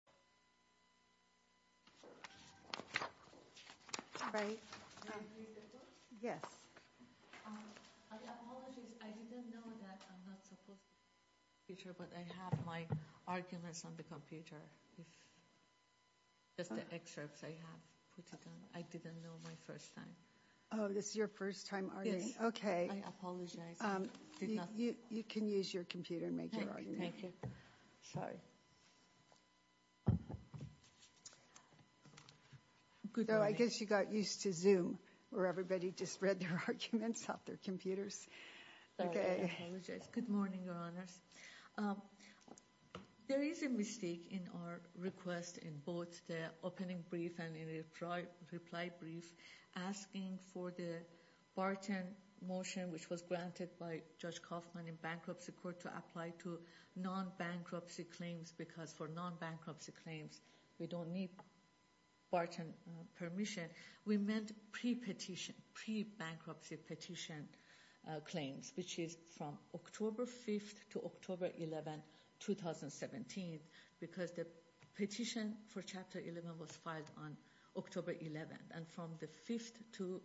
I apologize, I didn't know that I'm not supposed to use the computer, but I have my arguments on the computer, just the excerpts I have put it on. I didn't know my first time. Oh, this is your first time, are you? Yes. Okay. I apologize. You can use your computer and make your argument. Thank you. Sorry. Good morning. I guess you got used to Zoom, where everybody just read their arguments off their computers. I apologize. Good morning, Your Honors. There is a mistake in our request in both the opening brief and in the reply brief, asking for the Barton motion, which was granted by Judge non-bankruptcy claims, because for non-bankruptcy claims, we don't need Barton permission. We meant pre-petition, pre-bankruptcy petition claims, which is from October 5th to October 11th, 2017, because the petition for Chapter 11 was filed on October 11th, and from the 5th to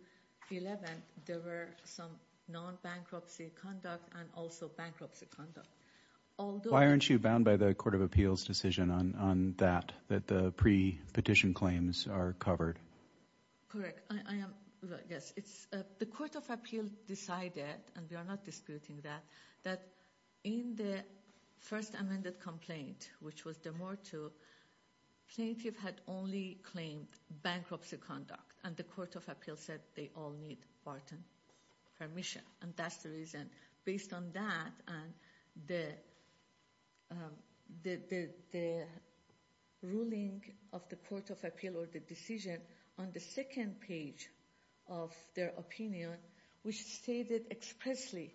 11th, there were some non-bankruptcy conduct and also bankruptcy conduct. Why aren't you bound by the Court of Appeals' decision on that, that the pre-petition claims are covered? Correct. Yes. The Court of Appeals decided, and we are not disputing that, that in the first amended complaint, which was de morto, plaintiff had only claimed bankruptcy conduct, and the Court of Appeals said they all need Barton permission, and that's the reason. Based on that, and the ruling of the Court of Appeals or the decision on the second page of their opinion, which stated expressly,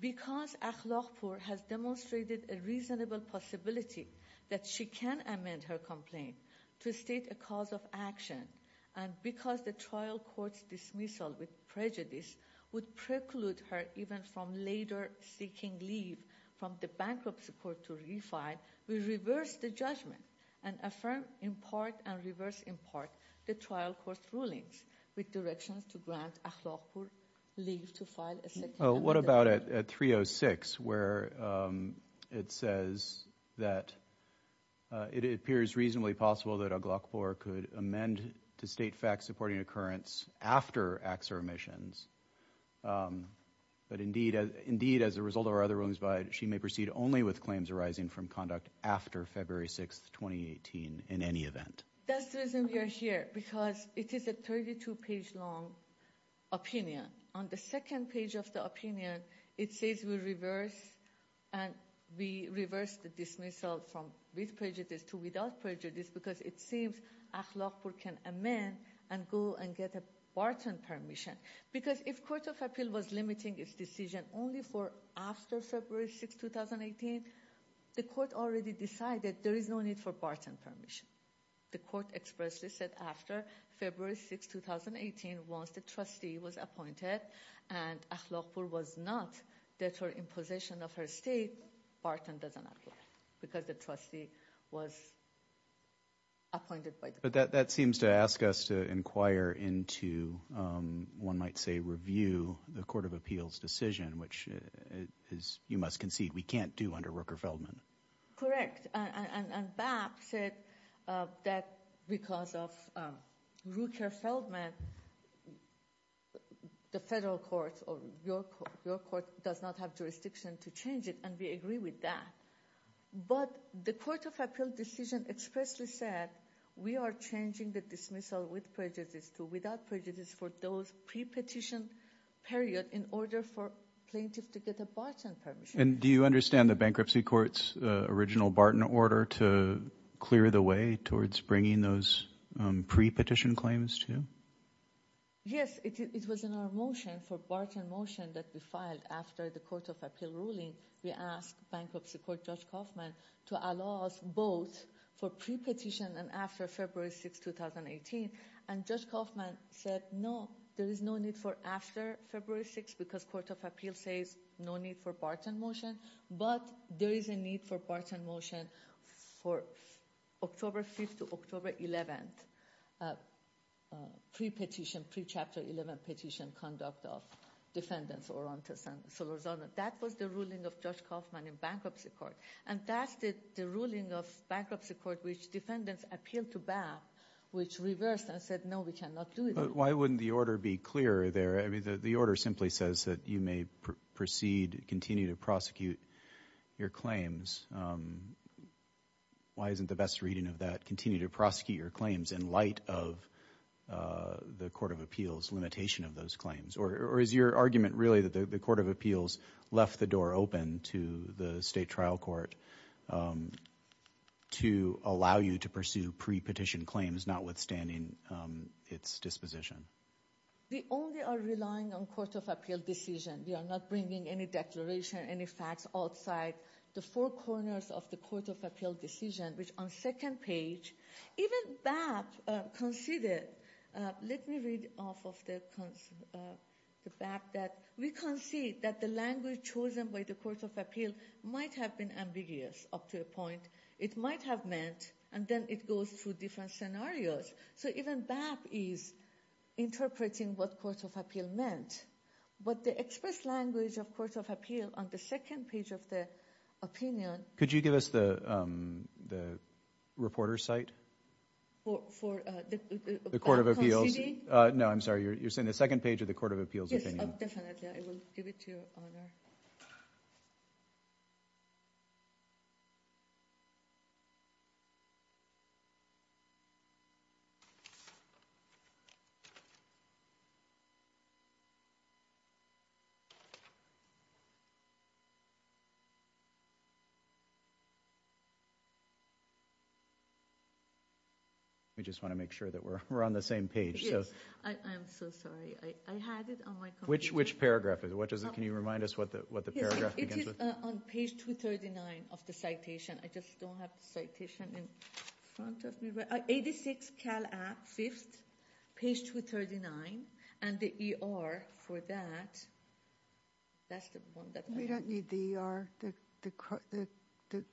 because Akhlaqpour has demonstrated a reasonable possibility that she can amend her complaint to state a cause of action, and because the trial court's dismissal with prejudice would preclude her even from later seeking leave from the bankruptcy court to refile, we reversed the judgment and affirmed in part and reversed in part the trial court's rulings with directions to grant Akhlaqpour leave to file a second amendment. So what about at 306, where it says that it appears reasonably possible that Akhlaqpour could amend to state facts supporting occurrence after AXA remissions, but indeed, as a result of our other rulings, she may proceed only with claims arising from conduct after February 6, 2018, in any event. That's the reason we are here, because it is a 32-page-long opinion. On the second page of the opinion, it says we reverse the dismissal from with prejudice to without prejudice because it seems Akhlaqpour can amend and go and get a Barton permission, because if Court of Appeals was limiting its decision only for after February 6, 2018, the court already decided there is no need for Barton permission. The court expressly said after February 6, 2018, once the trustee was appointed and Akhlaqpour was not deterred in possession of her estate, Barton doesn't apply, because the trustee was appointed by the court. But that seems to ask us to inquire into, one might say, review the Court of Appeals' decision, which, as you must concede, we can't do under Rooker-Feldman. Correct, and BAP said that because of Rooker-Feldman, the federal court or your court does not have jurisdiction to change it, and we agree with that. But the Court of Appeals' decision expressly said we are changing the dismissal with prejudice to without prejudice for those pre-petition period in order for plaintiff to get a Barton permission. And do you understand the Bankruptcy Court's original Barton order to clear the way towards bringing those pre-petition claims to? Yes, it was in our motion, for Barton motion that we filed after the Court of Appeals' ruling, we asked Bankruptcy Court Judge Kaufman to allow us both for pre-petition and after February 6, 2018, and Judge Kaufman said no, there is no need for after February 6, because Court of Appeals says no need for Barton motion, but there is a need for Barton motion for October 5th to October 11th, pre-petition, pre-Chapter 11 petition conduct of defendants Orantes and Solorzano. That was the ruling of Judge Kaufman in Bankruptcy Court, and that's the ruling of Bankruptcy Court which defendants appealed to BAP, which reversed and said no, we cannot do it. But why wouldn't the order be clearer there? I mean, the order simply says that you may proceed, continue to prosecute your claims. Why isn't the best reading of that continue to prosecute your claims in light of the Court of Appeals' limitation of those claims? Or is your argument really that the Court of Appeals left the door open to the State Trial Court to allow you to pursue pre-petition claims notwithstanding its disposition? We only are relying on Court of Appeals' decision. We are not bringing any declaration, any facts outside the four corners of the Court of Appeals' decision, which on second page, even BAP considered. Let me read off of the BAP that, we concede that the language chosen by the Court of Appeals might have been ambiguous up to a point. It might have meant, and then it goes through different scenarios. So even BAP is interpreting what Court of Appeals meant. But the express language of Court of Appeals on the second page of the opinion— Could you give us the reporter's site? For the— The Court of Appeals. No, I'm sorry, you're saying the second page of the Court of Appeals' opinion. Yes, definitely, I will give it to you, Your Honor. We just want to make sure that we're on the same page. Yes, I am so sorry, I had it on my computer. Which paragraph is it? Can you remind us what the paragraph begins with? It is on page 239 of the citation. I just don't have the citation in front of me. 86 Cal App, 5th, page 239. And the ER for that, that's the one that— We don't need the ER. The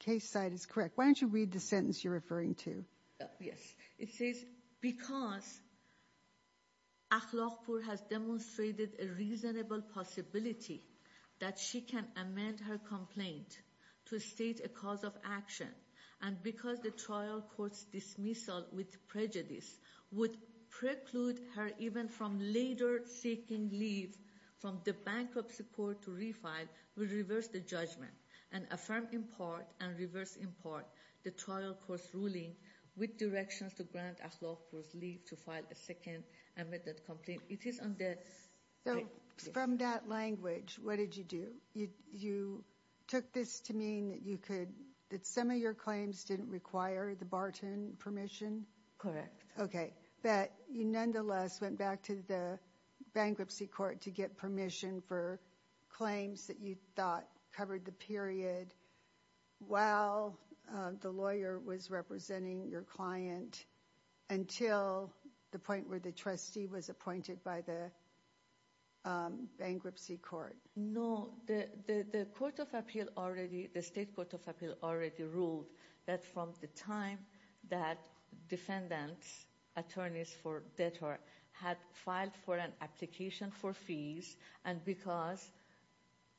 case site is correct. Why don't you read the sentence you're referring to? Yes, it says, Because Akhlaqpour has demonstrated a reasonable possibility that she can amend her complaint to state a cause of action and because the trial court's dismissal with prejudice would preclude her even from later seeking leave from the bankruptcy court to refile, would reverse the judgment and affirm in part and reverse in part the trial court's ruling with directions to grant Akhlaqpour's leave to file a second amended complaint. It is on the— So, from that language, what did you do? You took this to mean that you could— that some of your claims didn't require the Barton permission? Correct. Okay, but you nonetheless went back to the bankruptcy court to get permission for claims that you thought covered the period while the lawyer was representing your client until the point where the trustee was appointed by the bankruptcy court? No, the court of appeal already— the state court of appeal already ruled that from the time that defendants, attorneys for debtor, had filed for an application for fees and because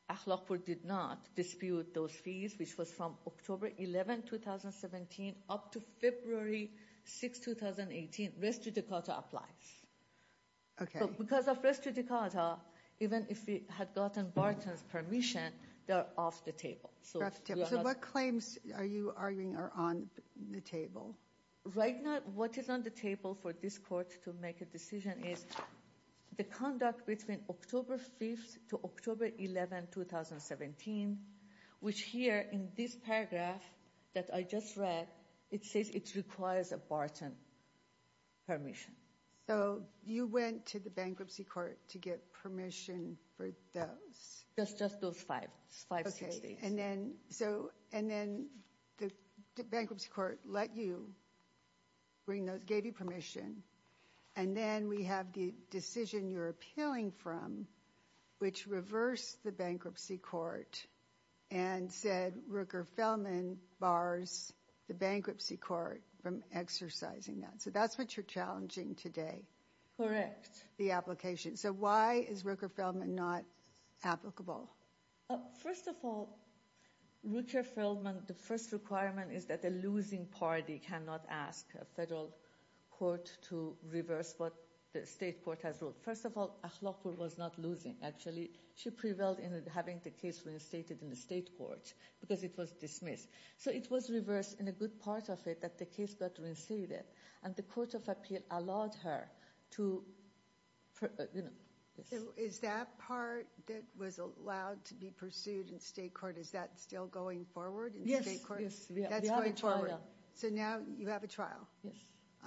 Akhlaqpour did not dispute those fees, which was from October 11, 2017 up to February 6, 2018, res judicata applies. Okay. Because of res judicata, even if it had gotten Barton's permission, they're off the table. So, what claims are you arguing are on the table? Right now, what is on the table for this court to make a decision is the conduct between October 5th to October 11, 2017, which here in this paragraph that I just read, it says it requires a Barton permission. So, you went to the bankruptcy court to get permission for those? Just those five—five, six days. Okay, and then the bankruptcy court let you bring those— and then we have the decision you're appealing from, which reversed the bankruptcy court and said Rooker-Feldman bars the bankruptcy court from exercising that. So, that's what you're challenging today. Correct. The application. So, why is Rooker-Feldman not applicable? First of all, Rooker-Feldman, the first requirement is that the losing party cannot ask a federal court to reverse what the state court has ruled. First of all, Ahlalpour was not losing, actually. She prevailed in having the case reinstated in the state court because it was dismissed. So, it was reversed in a good part of it that the case got reinstated, and the court of appeal allowed her to— Is that part that was allowed to be pursued in state court, is that still going forward in state court? Yes. That's going forward. So, now you have a trial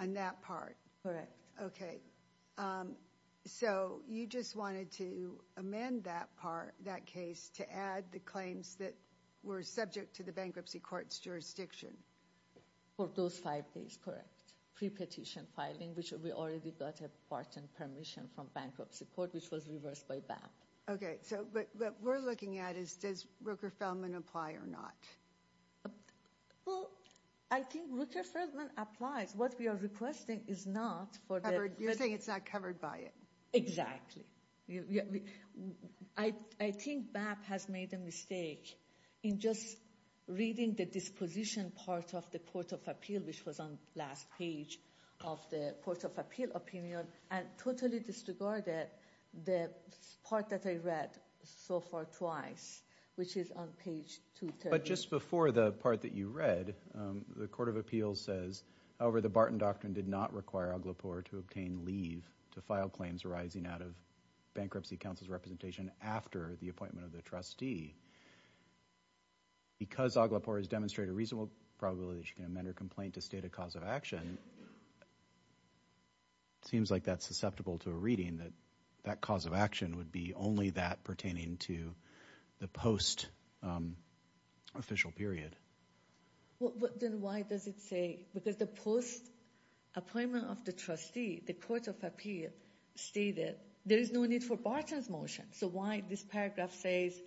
on that part. Correct. Okay. So, you just wanted to amend that part, that case, to add the claims that were subject to the bankruptcy court's jurisdiction. For those five days, correct, pre-petition filing, which we already got a part in permission from bankruptcy court, which was reversed by BAP. Okay. So, what we're looking at is does Rooker-Feldman apply or not? Well, I think Rooker-Feldman applies. What we are requesting is not for the— You're saying it's not covered by it. Exactly. I think BAP has made a mistake in just reading the disposition part of the court of appeal, which was on last page of the court of appeal opinion, and totally disregarded the part that I read so far twice, which is on page 230. But just before the part that you read, the court of appeal says, however, the Barton Doctrine did not require Aglipore to obtain leave to file claims arising out of bankruptcy counsel's representation after the appointment of the trustee. Because Aglipore has demonstrated a reasonable probability that she can amend her complaint to state a cause of action, and it seems like that's susceptible to a reading that that cause of action would be only that pertaining to the post-official period. Well, then why does it say? Because the post-appointment of the trustee, the court of appeal stated there is no need for Barton's motion. So why this paragraph says,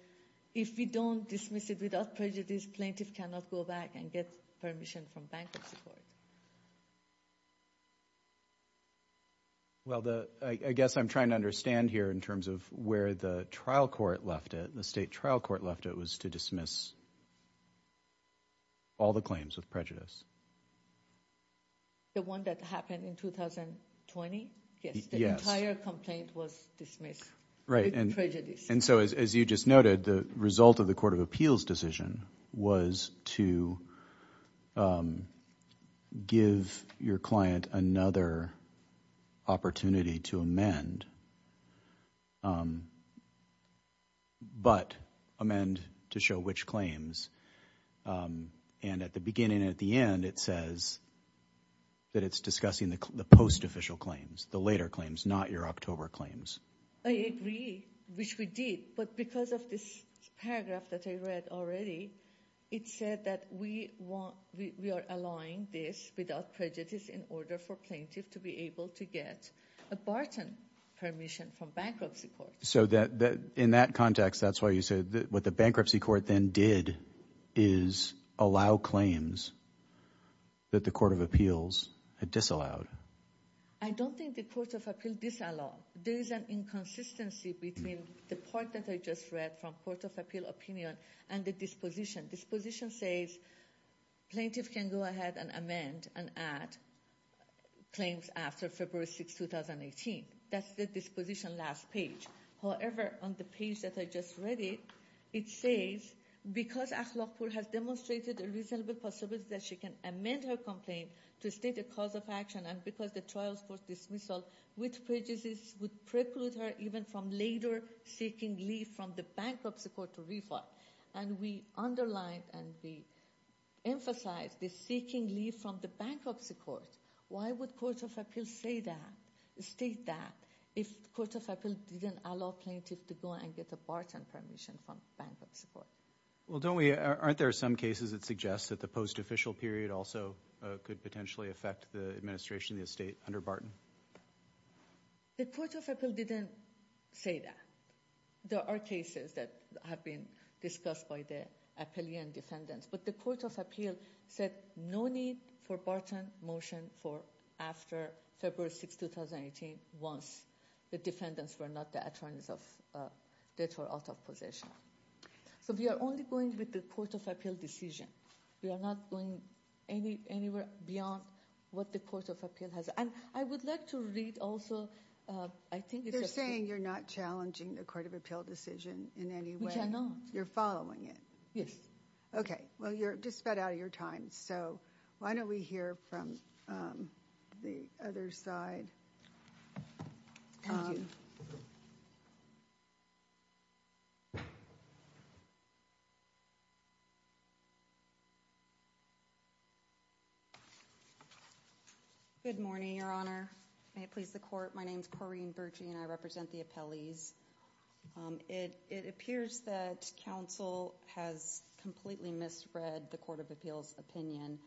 if we don't dismiss it without prejudice, this plaintiff cannot go back and get permission from bankruptcy court. Well, I guess I'm trying to understand here in terms of where the trial court left it. The state trial court left it was to dismiss all the claims with prejudice. The one that happened in 2020? Yes, the entire complaint was dismissed with prejudice. And so, as you just noted, the result of the court of appeals decision was to give your client another opportunity to amend, but amend to show which claims. And at the beginning and at the end, it says that it's discussing the post-official claims, the later claims, not your October claims. I agree, which we did. But because of this paragraph that I read already, it said that we are allowing this without prejudice in order for plaintiff to be able to get a Barton permission from bankruptcy court. So in that context, that's why you said what the bankruptcy court then did is allow claims that the court of appeals had disallowed. I don't think the court of appeals disallowed. There is an inconsistency between the part that I just read from court of appeal opinion and the disposition. Disposition says plaintiff can go ahead and amend and add claims after February 6, 2018. That's the disposition last page. However, on the page that I just read it, it says, because Ahlalpur has demonstrated a reasonable possibility that she can amend her complaint to state a cause of action and because the trials for dismissal with prejudice would preclude her even from later seeking leave from the bankruptcy court to refile. And we underline and we emphasize the seeking leave from the bankruptcy court. Why would court of appeals state that if court of appeals didn't allow plaintiff to go and get a Barton permission from bankruptcy court? Well, aren't there some cases that suggest that the post-official period also could potentially affect the administration of the estate under Barton? The court of appeal didn't say that. There are cases that have been discussed by the appellee and defendants, but the court of appeal said no need for Barton motion for after February 6, 2018 once the defendants were not the attorneys that were out of position. So we are only going with the court of appeal decision. We are not going anywhere beyond what the court of appeal has. And I would like to read also, I think it's a— They're saying you're not challenging the court of appeal decision in any way. We cannot. You're following it. Yes. Okay. Well, you're just about out of your time. So why don't we hear from the other side. Thank you. Good morning, Your Honor. May it please the court. My name is Corrine Burgey, and I represent the appellees. It appears that counsel has completely misread the court of appeal's opinion,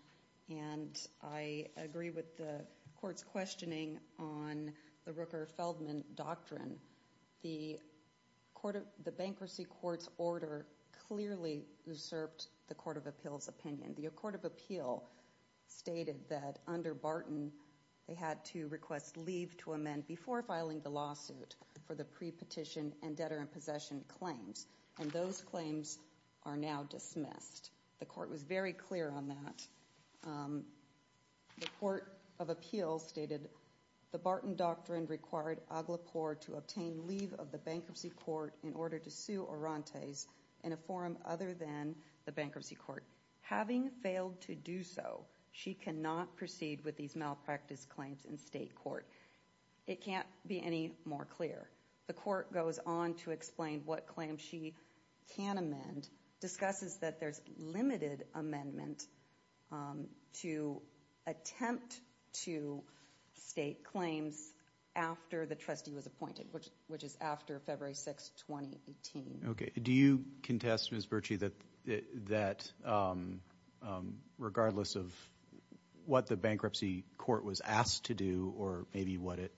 and I agree with the court's questioning on the Rooker-Feldman doctrine. The bankruptcy court's order clearly usurped the court of appeal's opinion. The court of appeal stated that under Barton, they had to request leave to amend before filing the lawsuit for the pre-petition and debtor-in-possession claims, and those claims are now dismissed. The court was very clear on that. The court of appeal stated the Barton doctrine required Aglepore to obtain leave of the bankruptcy court in order to sue Orantes in a forum other than the bankruptcy court. Having failed to do so, she cannot proceed with these malpractice claims in state court. It can't be any more clear. The court goes on to explain what claims she can amend, and discusses that there's limited amendment to attempt to state claims after the trustee was appointed, which is after February 6, 2018. Okay. Do you contest, Ms. Burgey, that regardless of what the bankruptcy court was asked to do or maybe what it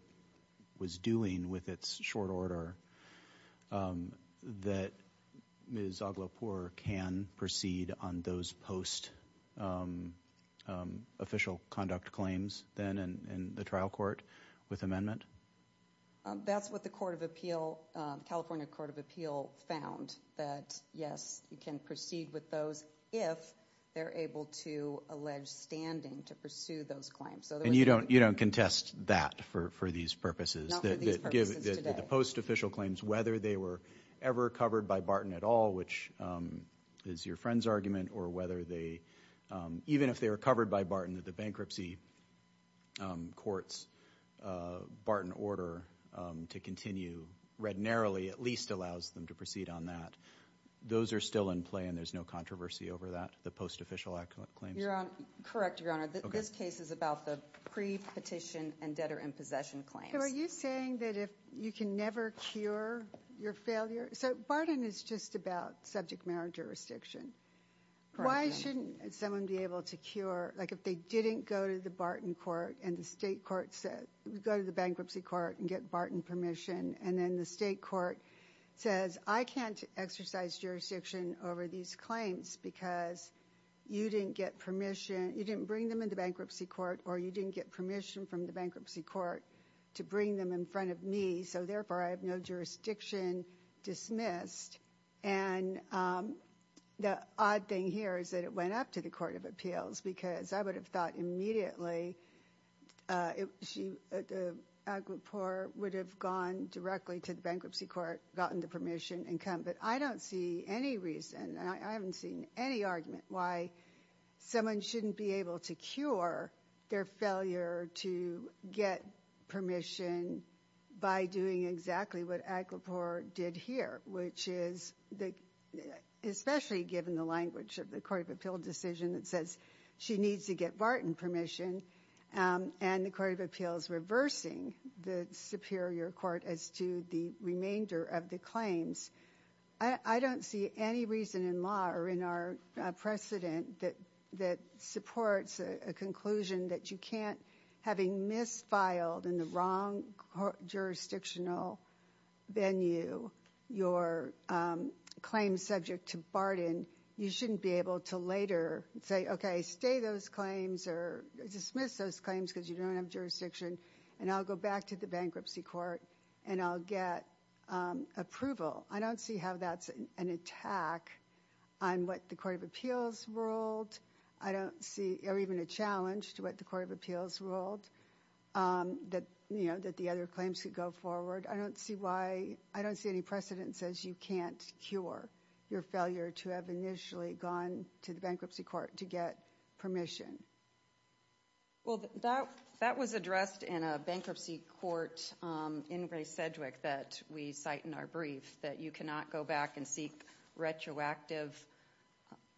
was doing with its short order, that Ms. Aglepore can proceed on those post-official conduct claims then in the trial court with amendment? That's what the California court of appeal found, that yes, you can proceed with those if they're able to allege standing to pursue those claims. And you don't contest that for these purposes? Not for these purposes today. The post-official claims, whether they were ever covered by Barton at all, which is your friend's argument, or even if they were covered by Barton, that the bankruptcy court's Barton order to continue, read narrowly, at least allows them to proceed on that. Those are still in play, and there's no controversy over that, the post-official claims? Correct, Your Honor. This case is about the pre-petition and debtor in possession claims. So are you saying that you can never cure your failure? So Barton is just about subject matter jurisdiction. Why shouldn't someone be able to cure, like if they didn't go to the Barton court and the state court said, go to the bankruptcy court and get Barton permission, and then the state court says, I can't exercise jurisdiction over these claims because you didn't get permission, you didn't bring them in the bankruptcy court or you didn't get permission from the bankruptcy court to bring them in front of me, so therefore I have no jurisdiction dismissed. And the odd thing here is that it went up to the court of appeals because I would have thought immediately Agrippor would have gone directly to the bankruptcy court, gotten the permission, and come. But I don't see any reason, and I haven't seen any argument, why someone shouldn't be able to cure their failure to get permission by doing exactly what Agrippor did here, which is, especially given the language of the court of appeal decision that says she needs to get Barton permission, and the court of appeals reversing the superior court as to the remainder of the claims. I don't see any reason in law or in our precedent that supports a conclusion that you can't, having misfiled in the wrong jurisdictional venue your claim subject to Barton, you shouldn't be able to later say, okay, stay those claims or dismiss those claims because you don't have jurisdiction, and I'll go back to the bankruptcy court and I'll get approval. I don't see how that's an attack on what the court of appeals ruled, or even a challenge to what the court of appeals ruled, that the other claims could go forward. I don't see any precedent that says you can't cure your failure to have initially gone to the bankruptcy court to get permission. Well, that was addressed in a bankruptcy court in Ray Sedgwick that we cite in our brief, that you cannot go back and seek retroactive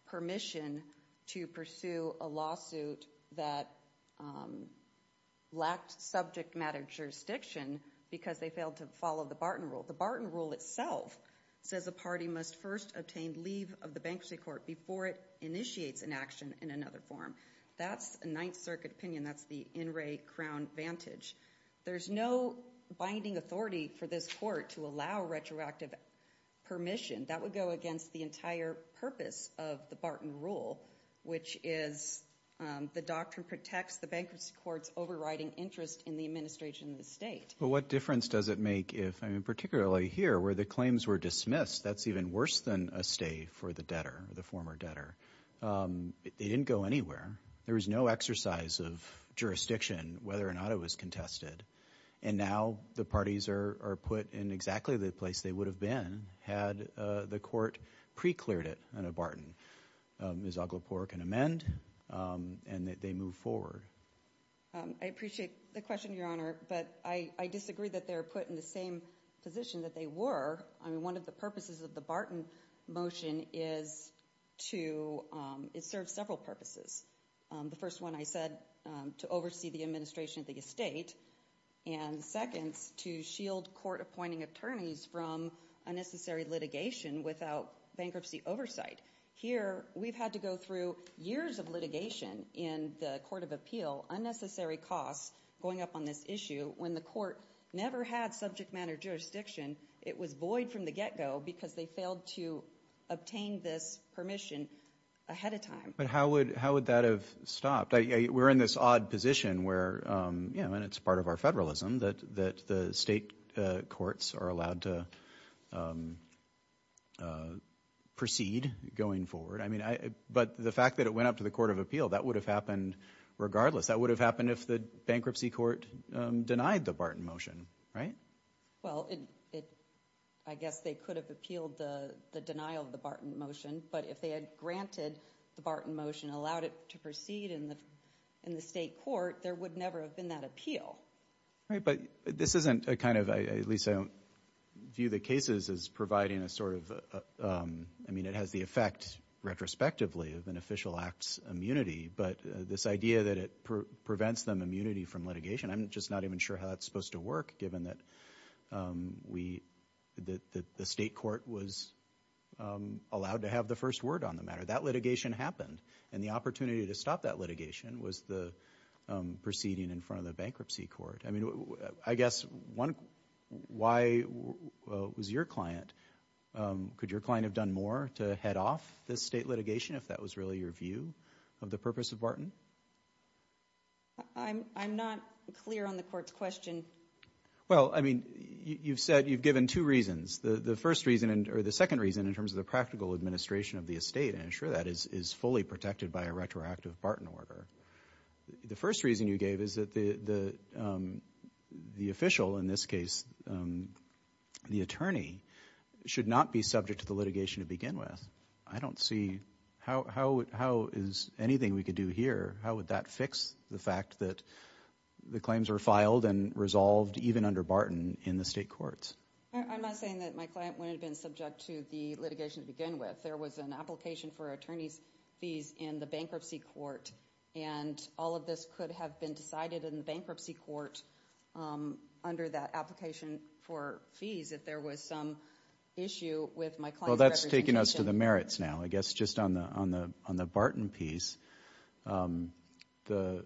permission to pursue a lawsuit that lacked subject matter jurisdiction because they failed to follow the Barton rule. The Barton rule itself says a party must first obtain leave of the bankruptcy court before it initiates an action in another form. That's a Ninth Circuit opinion. That's the in Ray Crown vantage. There's no binding authority for this court to allow retroactive permission. That would go against the entire purpose of the Barton rule, which is the doctrine protects the bankruptcy court's overriding interest in the administration of the state. But what difference does it make if, particularly here where the claims were dismissed, that's even worse than a stay for the debtor, the former debtor. They didn't go anywhere. There was no exercise of jurisdiction whether or not it was contested, and now the parties are put in exactly the place they would have been had the court pre-cleared it in a Barton. Ms. Aglepour can amend, and they move forward. I appreciate the question, Your Honor, but I disagree that they're put in the same position that they were. One of the purposes of the Barton motion is to serve several purposes. The first one I said to oversee the administration of the estate, and the second is to shield court-appointing attorneys from unnecessary litigation without bankruptcy oversight. Here we've had to go through years of litigation in the court of appeal, unnecessary costs going up on this issue. When the court never had subject matter jurisdiction, it was void from the get-go because they failed to obtain this permission ahead of time. But how would that have stopped? We're in this odd position where, and it's part of our federalism, that the state courts are allowed to proceed going forward. But the fact that it went up to the court of appeal, that would have happened regardless. That would have happened if the bankruptcy court denied the Barton motion, right? Well, I guess they could have appealed the denial of the Barton motion, but if they had granted the Barton motion and allowed it to proceed in the state court, there would never have been that appeal. Right, but this isn't a kind of, at least I don't view the cases as providing a sort of, I mean it has the effect retrospectively of an official act's immunity, but this idea that it prevents them immunity from litigation, I'm just not even sure how that's supposed to work, given that the state court was allowed to have the first word on the matter. That litigation happened, and the opportunity to stop that litigation was the proceeding in front of the bankruptcy court. I mean, I guess, why was your client, could your client have done more to head off this state litigation, if that was really your view of the purpose of Barton? I'm not clear on the court's question. Well, I mean, you've said you've given two reasons. The first reason, or the second reason, in terms of the practical administration of the estate, and I'm sure that is fully protected by a retroactive Barton order. The first reason you gave is that the official, in this case the attorney, should not be subject to the litigation to begin with. I don't see, how is anything we could do here, how would that fix the fact that the claims were filed and resolved, even under Barton, in the state courts? I'm not saying that my client wouldn't have been subject to the litigation to begin with. There was an application for attorney's fees in the bankruptcy court, and all of this could have been decided in the bankruptcy court under that application for fees, if there was some issue with my client's representation. You're pushing us to the merits now, I guess, just on the Barton piece. I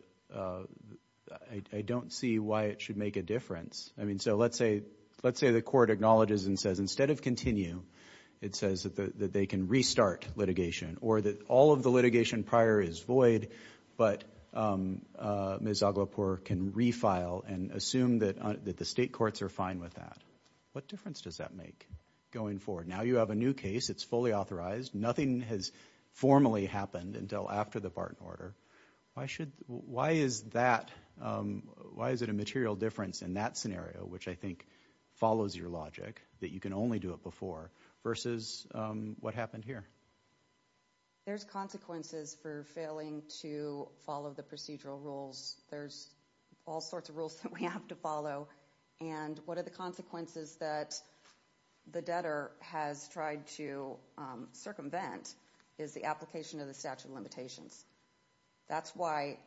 don't see why it should make a difference. I mean, so let's say the court acknowledges and says, instead of continue, it says that they can restart litigation, or that all of the litigation prior is void, but Ms. Aglepour can refile and assume that the state courts are fine with that. What difference does that make going forward? Now you have a new case. It's fully authorized. Nothing has formally happened until after the Barton order. Why is it a material difference in that scenario, which I think follows your logic, that you can only do it before, versus what happened here? There's consequences for failing to follow the procedural rules. There's all sorts of rules that we have to follow, and one of the consequences that the debtor has tried to circumvent is the application of the statute of limitations. That's why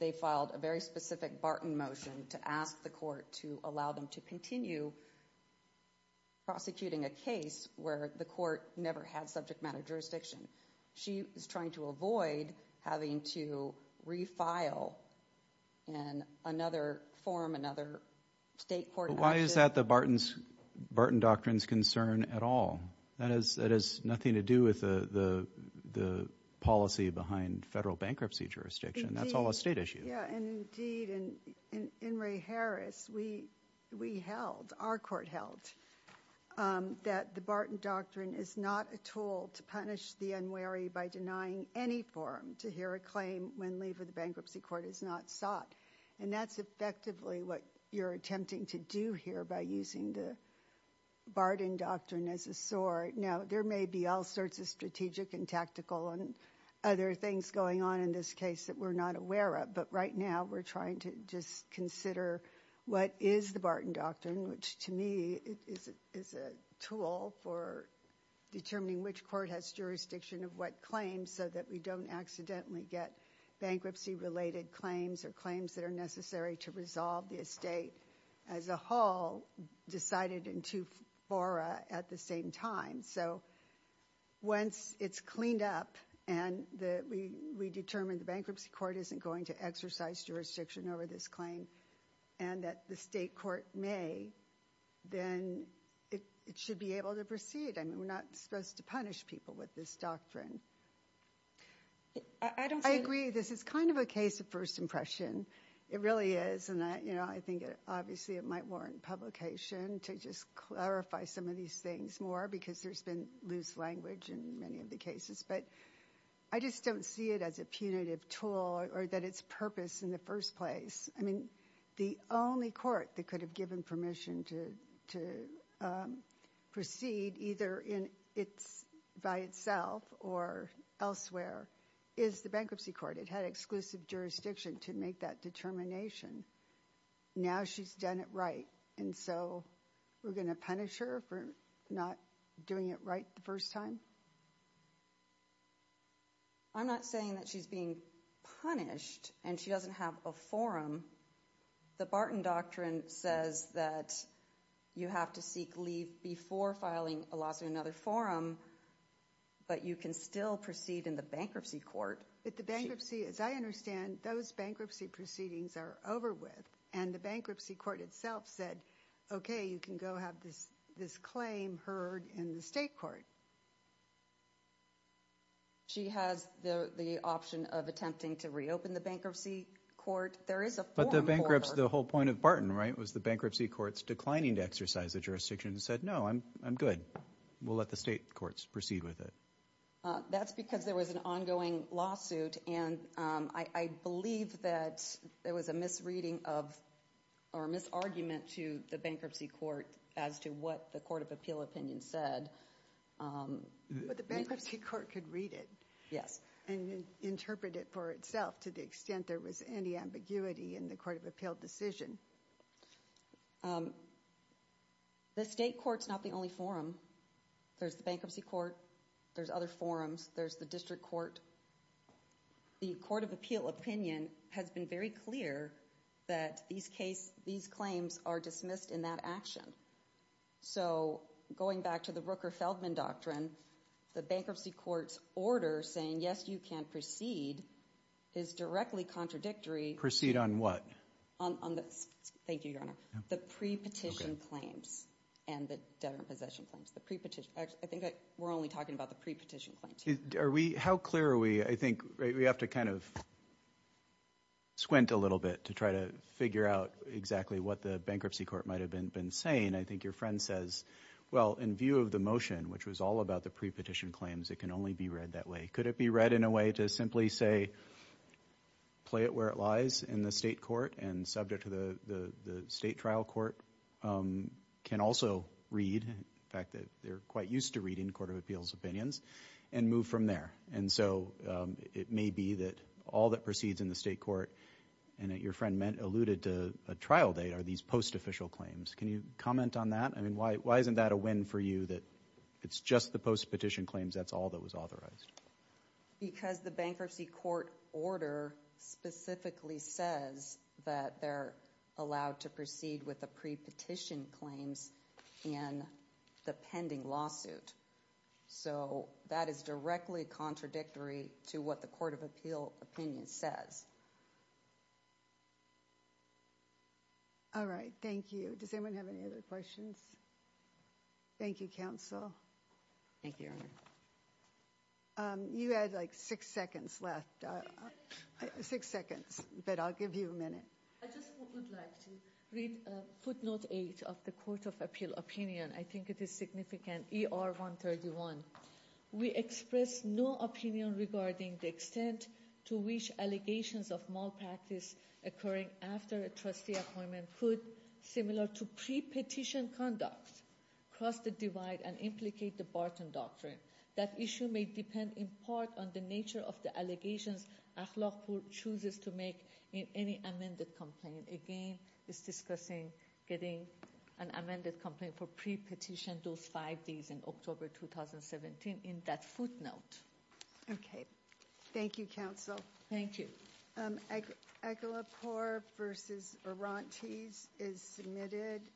they filed a very specific Barton motion to ask the court to allow them to continue prosecuting a case where the court never had subject matter jurisdiction. She is trying to avoid having to refile in another form, another state court action. Why is that the Barton Doctrine's concern at all? That has nothing to do with the policy behind federal bankruptcy jurisdiction. That's all a state issue. Indeed, and in Ray Harris, we held, our court held, that the Barton Doctrine is not a tool to punish the unwary by denying any forum to hear a claim when leave of the bankruptcy court is not sought. That's effectively what you're attempting to do here by using the Barton Doctrine as a sword. Now, there may be all sorts of strategic and tactical and other things going on in this case that we're not aware of, but right now we're trying to just consider what is the Barton Doctrine, which to me is a tool for determining which court has jurisdiction of what claim so that we don't accidentally get bankruptcy-related claims or claims that are necessary to resolve the estate as a whole decided in two fora at the same time. So once it's cleaned up and we determine the bankruptcy court isn't going to exercise jurisdiction over this claim and that the state court may, then it should be able to proceed. I mean, we're not supposed to punish people with this doctrine. I agree this is kind of a case of first impression. It really is, and I think obviously it might warrant publication to just clarify some of these things more because there's been loose language in many of the cases, but I just don't see it as a punitive tool or that it's purpose in the first place. I mean, the only court that could have given permission to proceed either by itself or elsewhere is the bankruptcy court. It had exclusive jurisdiction to make that determination. Now she's done it right, and so we're going to punish her for not doing it right the first time? I'm not saying that she's being punished and she doesn't have a forum. The Barton Doctrine says that you have to seek leave before filing a lawsuit in another forum, but you can still proceed in the bankruptcy court. But the bankruptcy, as I understand, those bankruptcy proceedings are over with, and the bankruptcy court itself said, okay, you can go have this claim heard in the state court. She has the option of attempting to reopen the bankruptcy court. There is a forum for her. But the bankruptcy, the whole point of Barton, right, was the bankruptcy court's declining to exercise the jurisdiction and said, no, I'm good. We'll let the state courts proceed with it. That's because there was an ongoing lawsuit, and I believe that there was a misreading of or a misargument to the bankruptcy court as to what the court of appeal opinion said. But the bankruptcy court could read it. Yes. And interpret it for itself to the extent there was any ambiguity in the court of appeal decision. The state court's not the only forum. There's the bankruptcy court. There's other forums. There's the district court. The court of appeal opinion has been very clear that these claims are dismissed in that action. So going back to the Rooker-Feldman doctrine, the bankruptcy court's order saying, yes, you can proceed, is directly contradictory. Proceed on what? Thank you, Your Honor. The pre-petition claims and the debtor-in-possession claims. I think we're only talking about the pre-petition claims. How clear are we? I think we have to kind of squint a little bit to try to figure out exactly what the bankruptcy court might have been saying. I think your friend says, well, in view of the motion, which was all about the pre-petition claims, it can only be read that way. Could it be read in a way to simply say, play it where it lies in the state court and subject to the state trial court, can also read the fact that they're quite used to reading the state court of appeals opinions, and move from there? And so it may be that all that proceeds in the state court, and that your friend alluded to a trial date, are these post-official claims. Can you comment on that? I mean, why isn't that a win for you, that it's just the post-petition claims, that's all that was authorized? Because the bankruptcy court order specifically says that they're allowed to proceed with the pre-petition claims in the pending lawsuit. So that is directly contradictory to what the court of appeal opinion says. All right. Thank you. Does anyone have any other questions? Thank you, counsel. Thank you, Your Honor. You had like six seconds left. Six seconds. But I'll give you a minute. I just would like to read footnote 8 of the court of appeal opinion. I think it is significant. ER 131. We express no opinion regarding the extent to which allegations of malpractice occurring after a trustee appointment could, similar to pre-petition conduct, cross the divide and implicate the Barton Doctrine. That issue may depend in part on the nature of the allegations Akhlaqpour chooses to make in any amended complaint. Again, it's discussing getting an amended complaint for pre-petition, those five days in October 2017, in that footnote. Okay. Thank you, counsel. Thank you. Akhlaqpour v. Arantes is submitted.